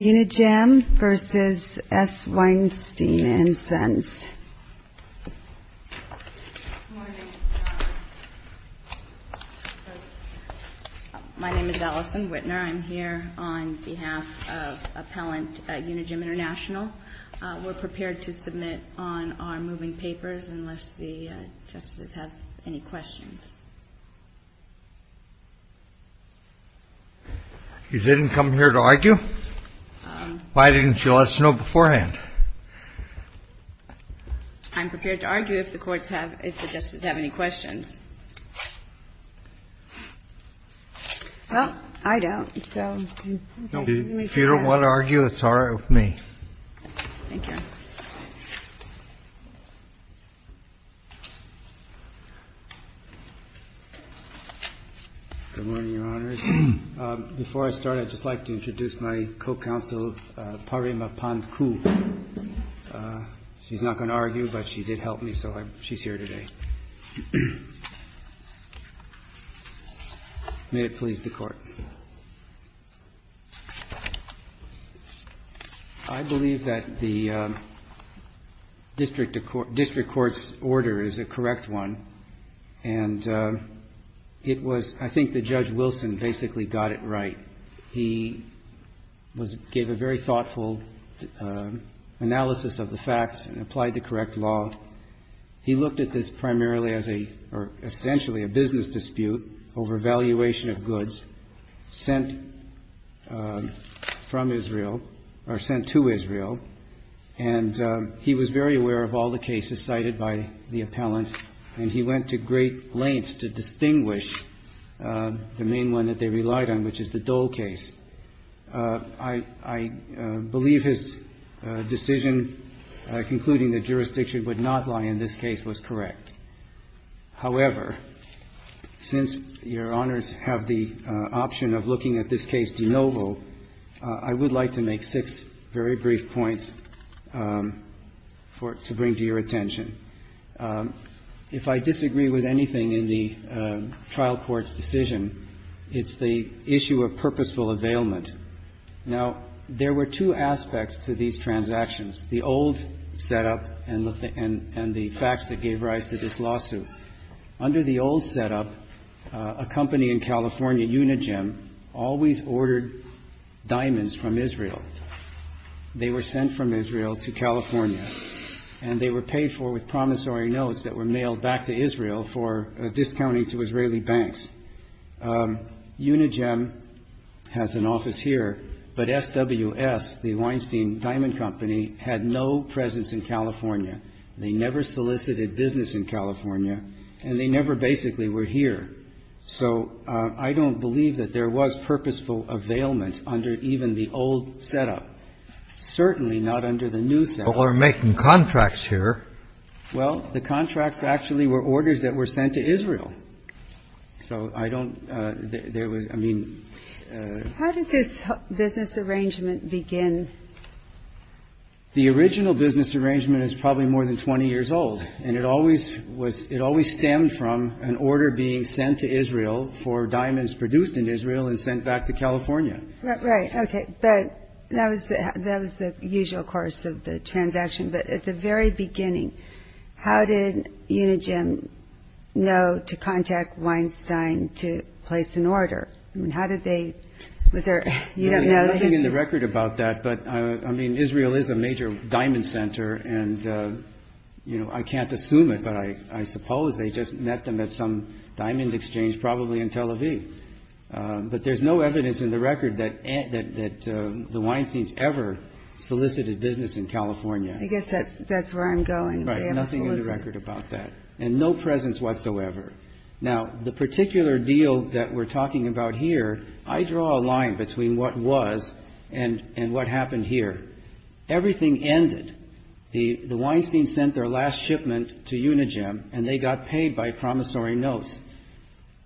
My name is Allison Wittner. I'm here on behalf of Appellant Unigem International. We're prepared to submit on our moving papers unless the Justices have any questions. You didn't come here to argue? Why didn't you let us know beforehand? I'm prepared to argue if the courts have – if the Justices have any questions. Well, I don't, so. If you don't want to argue, it's all right with me. Thank you. Good morning, Your Honors. Before I start, I'd just like to introduce my co-counsel, Parima Pandku. She's not going to argue, but she did help me, so she's here today. May it please the Court. I believe that the district court's order is a correct one, and it was – I think that Judge Wilson basically got it right. He gave a very thoughtful analysis of the facts and applied the correct law. He looked at this primarily as a – or essentially a business dispute over valuation of goods sent from Israel – or sent to Israel. And he was very aware of all the cases cited by the appellant, and he went to great lengths to distinguish the main one that they relied on, which is the Dole case. I believe his decision concluding that jurisdiction would not lie in this case was correct. However, since Your Honors have the option of looking at this case de novo, I would like to make six very brief points for – to bring to your attention. If I disagree with anything in the trial court's decision, it's the issue of purposeful availment. Now, there were two aspects to these transactions, the old setup and the facts that gave rise to this lawsuit. Under the old setup, a company in California, Unigem, always ordered diamonds from Israel. They were sent from Israel to California, and they were paid for with promissory notes that were mailed back to Israel for discounting to Israeli banks. Unigem has an office here, but SWS, the Weinstein Diamond Company, had no presence in California. They never solicited business in California, and they never basically were here. So I don't believe that there was purposeful availment under even the old setup, certainly not under the new setup. Kennedy. Well, we're making contracts here. Well, the contracts actually were orders that were sent to Israel. So I don't – there was – I mean – How did this business arrangement begin? The original business arrangement is probably more than 20 years old, and it always stemmed from an order being sent to Israel for diamonds produced in Israel and sent back to California. Right, okay. But that was the usual course of the transaction. But at the very beginning, how did Unigem know to contact Weinstein to place an order? I mean, how did they – was there – you don't know the history? There's nothing in the record about that. But, I mean, Israel is a major diamond center, and, you know, I can't assume it, but I suppose they just met them at some diamond exchange, probably in Tel Aviv. But there's no evidence in the record that the Weinsteins ever solicited business in California. I guess that's where I'm going. Right, nothing in the record about that, and no presence whatsoever. Now, the particular deal that we're talking about here, I draw a line between what was and what happened here. Everything ended. The Weinsteins sent their last shipment to Unigem, and they got paid by promissory notes.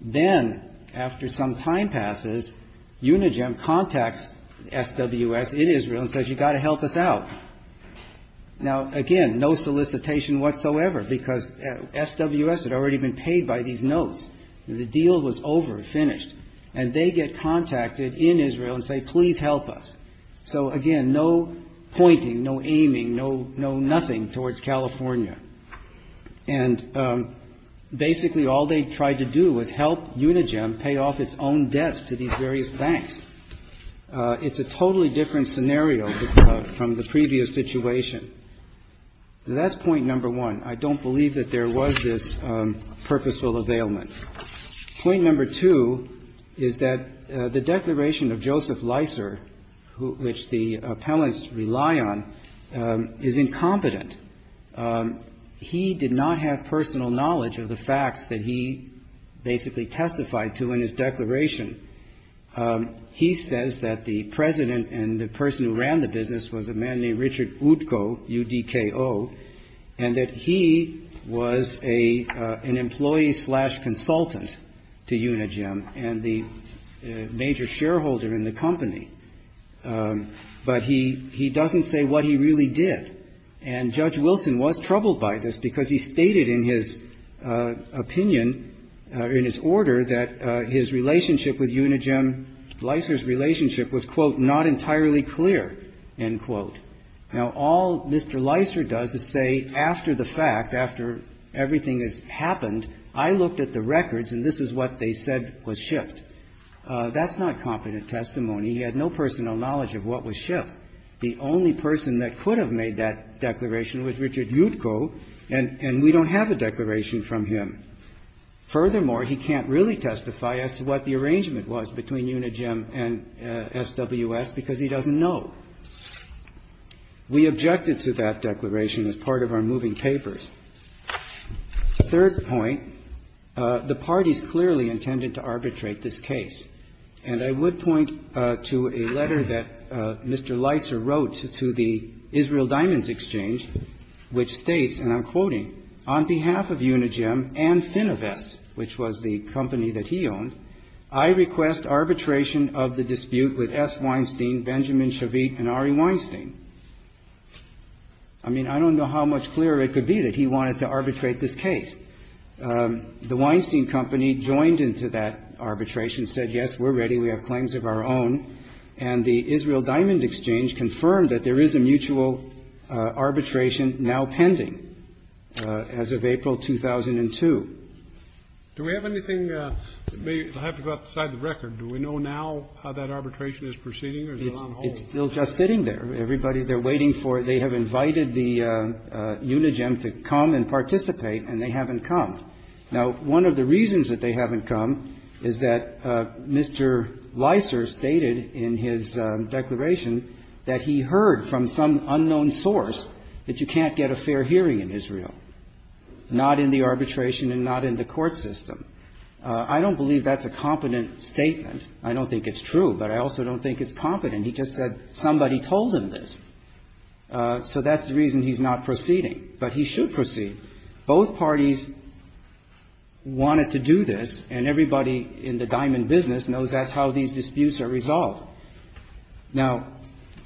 Then, after some time passes, Unigem contacts SWS in Israel and says, you've got to help us out. Now, again, no solicitation whatsoever, because SWS had already been paid by these notes. The deal was over, finished. And they get contacted in Israel and say, please help us. So, again, no pointing, no aiming, no nothing towards California. And basically all they tried to do was help Unigem pay off its own debts to these various banks. It's a totally different scenario from the previous situation. That's point number one. I don't believe that there was this purposeful availment. Point number two is that the declaration of Joseph Leiser, which the appellants rely on, is incompetent. He did not have personal knowledge of the facts that he basically testified to in his declaration. He says that the President and the person who ran the business was a man named Richard Utko, U-D-K-O, and that he was an employee-slash-consultant to Unigem and the major shareholder in the company. But he doesn't say what he really did. And Judge Wilson was troubled by this because he stated in his opinion, in his order, that his relationship with Unigem, Leiser's relationship, was, quote, not entirely clear, end quote. Now, all Mr. Leiser does is say after the fact, after everything has happened, I looked at the records and this is what they said was shift. That's not competent testimony. He had no personal knowledge of what was shift. The only person that could have made that declaration was Richard Utko, and we don't have a declaration from him. Furthermore, he can't really testify as to what the arrangement was between Unigem and SWS because he doesn't know. We objected to that declaration as part of our moving papers. The third point, the parties clearly intended to arbitrate this case. And I would point to a letter that Mr. Leiser wrote to the Israel Diamonds Exchange, which states, and I'm quoting, On behalf of Unigem and Fininvest, which was the company that he owned, I request arbitration of the dispute with S. Weinstein, Benjamin Shavit, and Ari Weinstein. I mean, I don't know how much clearer it could be that he wanted to arbitrate this case. The Weinstein company joined into that arbitration, said, yes, we're ready. We have claims of our own. And the Israel Diamond Exchange confirmed that there is a mutual arbitration now pending as of April 2002. Do we have anything? I have to go outside the record. Do we know now how that arbitration is proceeding or is it on hold? It's still just sitting there. Everybody, they're waiting for it. They have invited the Unigem to come and participate, and they haven't come. Now, one of the reasons that they haven't come is that Mr. Leiser stated in his declaration that he heard from some unknown source that you can't get a fair hearing in Israel, not in the arbitration and not in the court system. I don't believe that's a competent statement. I don't think it's true, but I also don't think it's competent. And he just said somebody told him this. So that's the reason he's not proceeding. But he should proceed. Both parties wanted to do this, and everybody in the diamond business knows that's how these disputes are resolved. Now,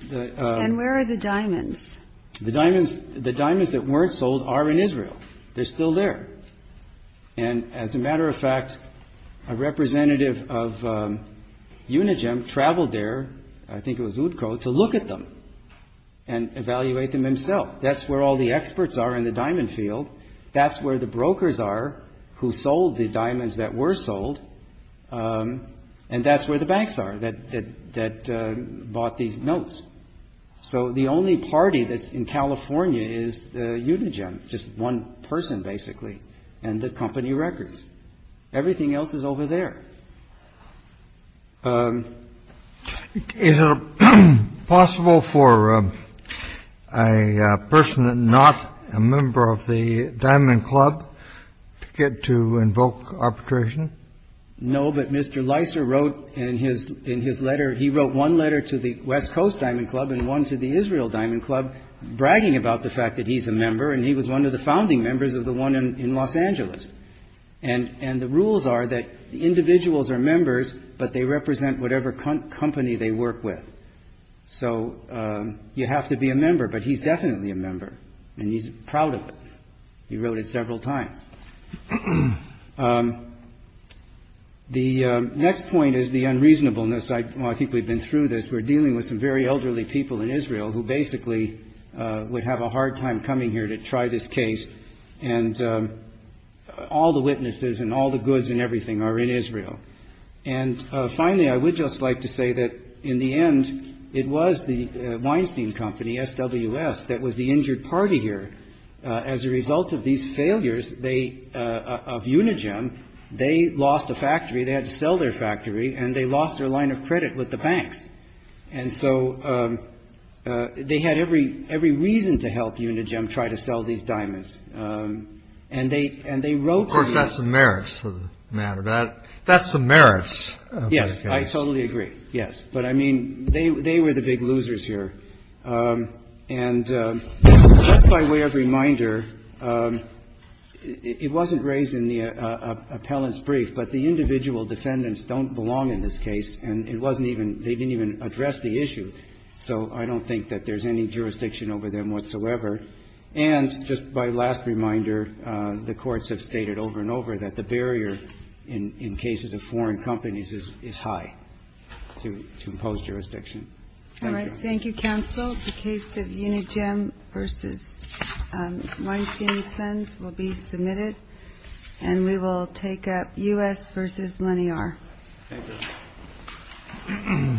the ‑‑ And where are the diamonds? The diamonds that weren't sold are in Israel. They're still there. And as a matter of fact, a representative of Unigem traveled there, I think it was Utko, to look at them and evaluate them himself. That's where all the experts are in the diamond field. That's where the brokers are who sold the diamonds that were sold. And that's where the banks are that bought these notes. So the only party that's in California is Unigem, just one person, basically, and the company records. Everything else is over there. Is it possible for a person not a member of the diamond club to get to invoke arbitration? No, but Mr. Leiser wrote in his letter, he wrote one letter to the West Coast Diamond Club and one to the Israel Diamond Club bragging about the fact that he's a member, and he was one of the founding members of the one in Los Angeles. And the rules are that individuals are members, but they represent whatever company they work with. So you have to be a member, but he's definitely a member, and he's proud of it. He wrote it several times. The next point is the unreasonableness. I think we've been through this. We're dealing with some very elderly people in Israel who basically would have a hard time coming here to try this case. And all the witnesses and all the goods and everything are in Israel. And finally, I would just like to say that in the end, it was the Weinstein Company, SWS, that was the injured party here. As a result of these failures of Unigem, they lost a factory. They had to sell their factory, and they lost their line of credit with the banks. And so they had every reason to help Unigem try to sell these diamonds. And they wrote to the- Of course, that's the merits of the matter. That's the merits of the case. Yes, I totally agree. Yes. But, I mean, they were the big losers here. And just by way of reminder, it wasn't raised in the appellant's brief, but the individual defendants don't belong in this case. And it wasn't even they didn't even address the issue. So I don't think that there's any jurisdiction over them whatsoever. And just by last reminder, the courts have stated over and over that the barrier Thank you. Thank you, counsel. The case of Unigem v. Weinstein & Sons will be submitted. And we will take up U.S. v. Lenior. Thank you. Thank you.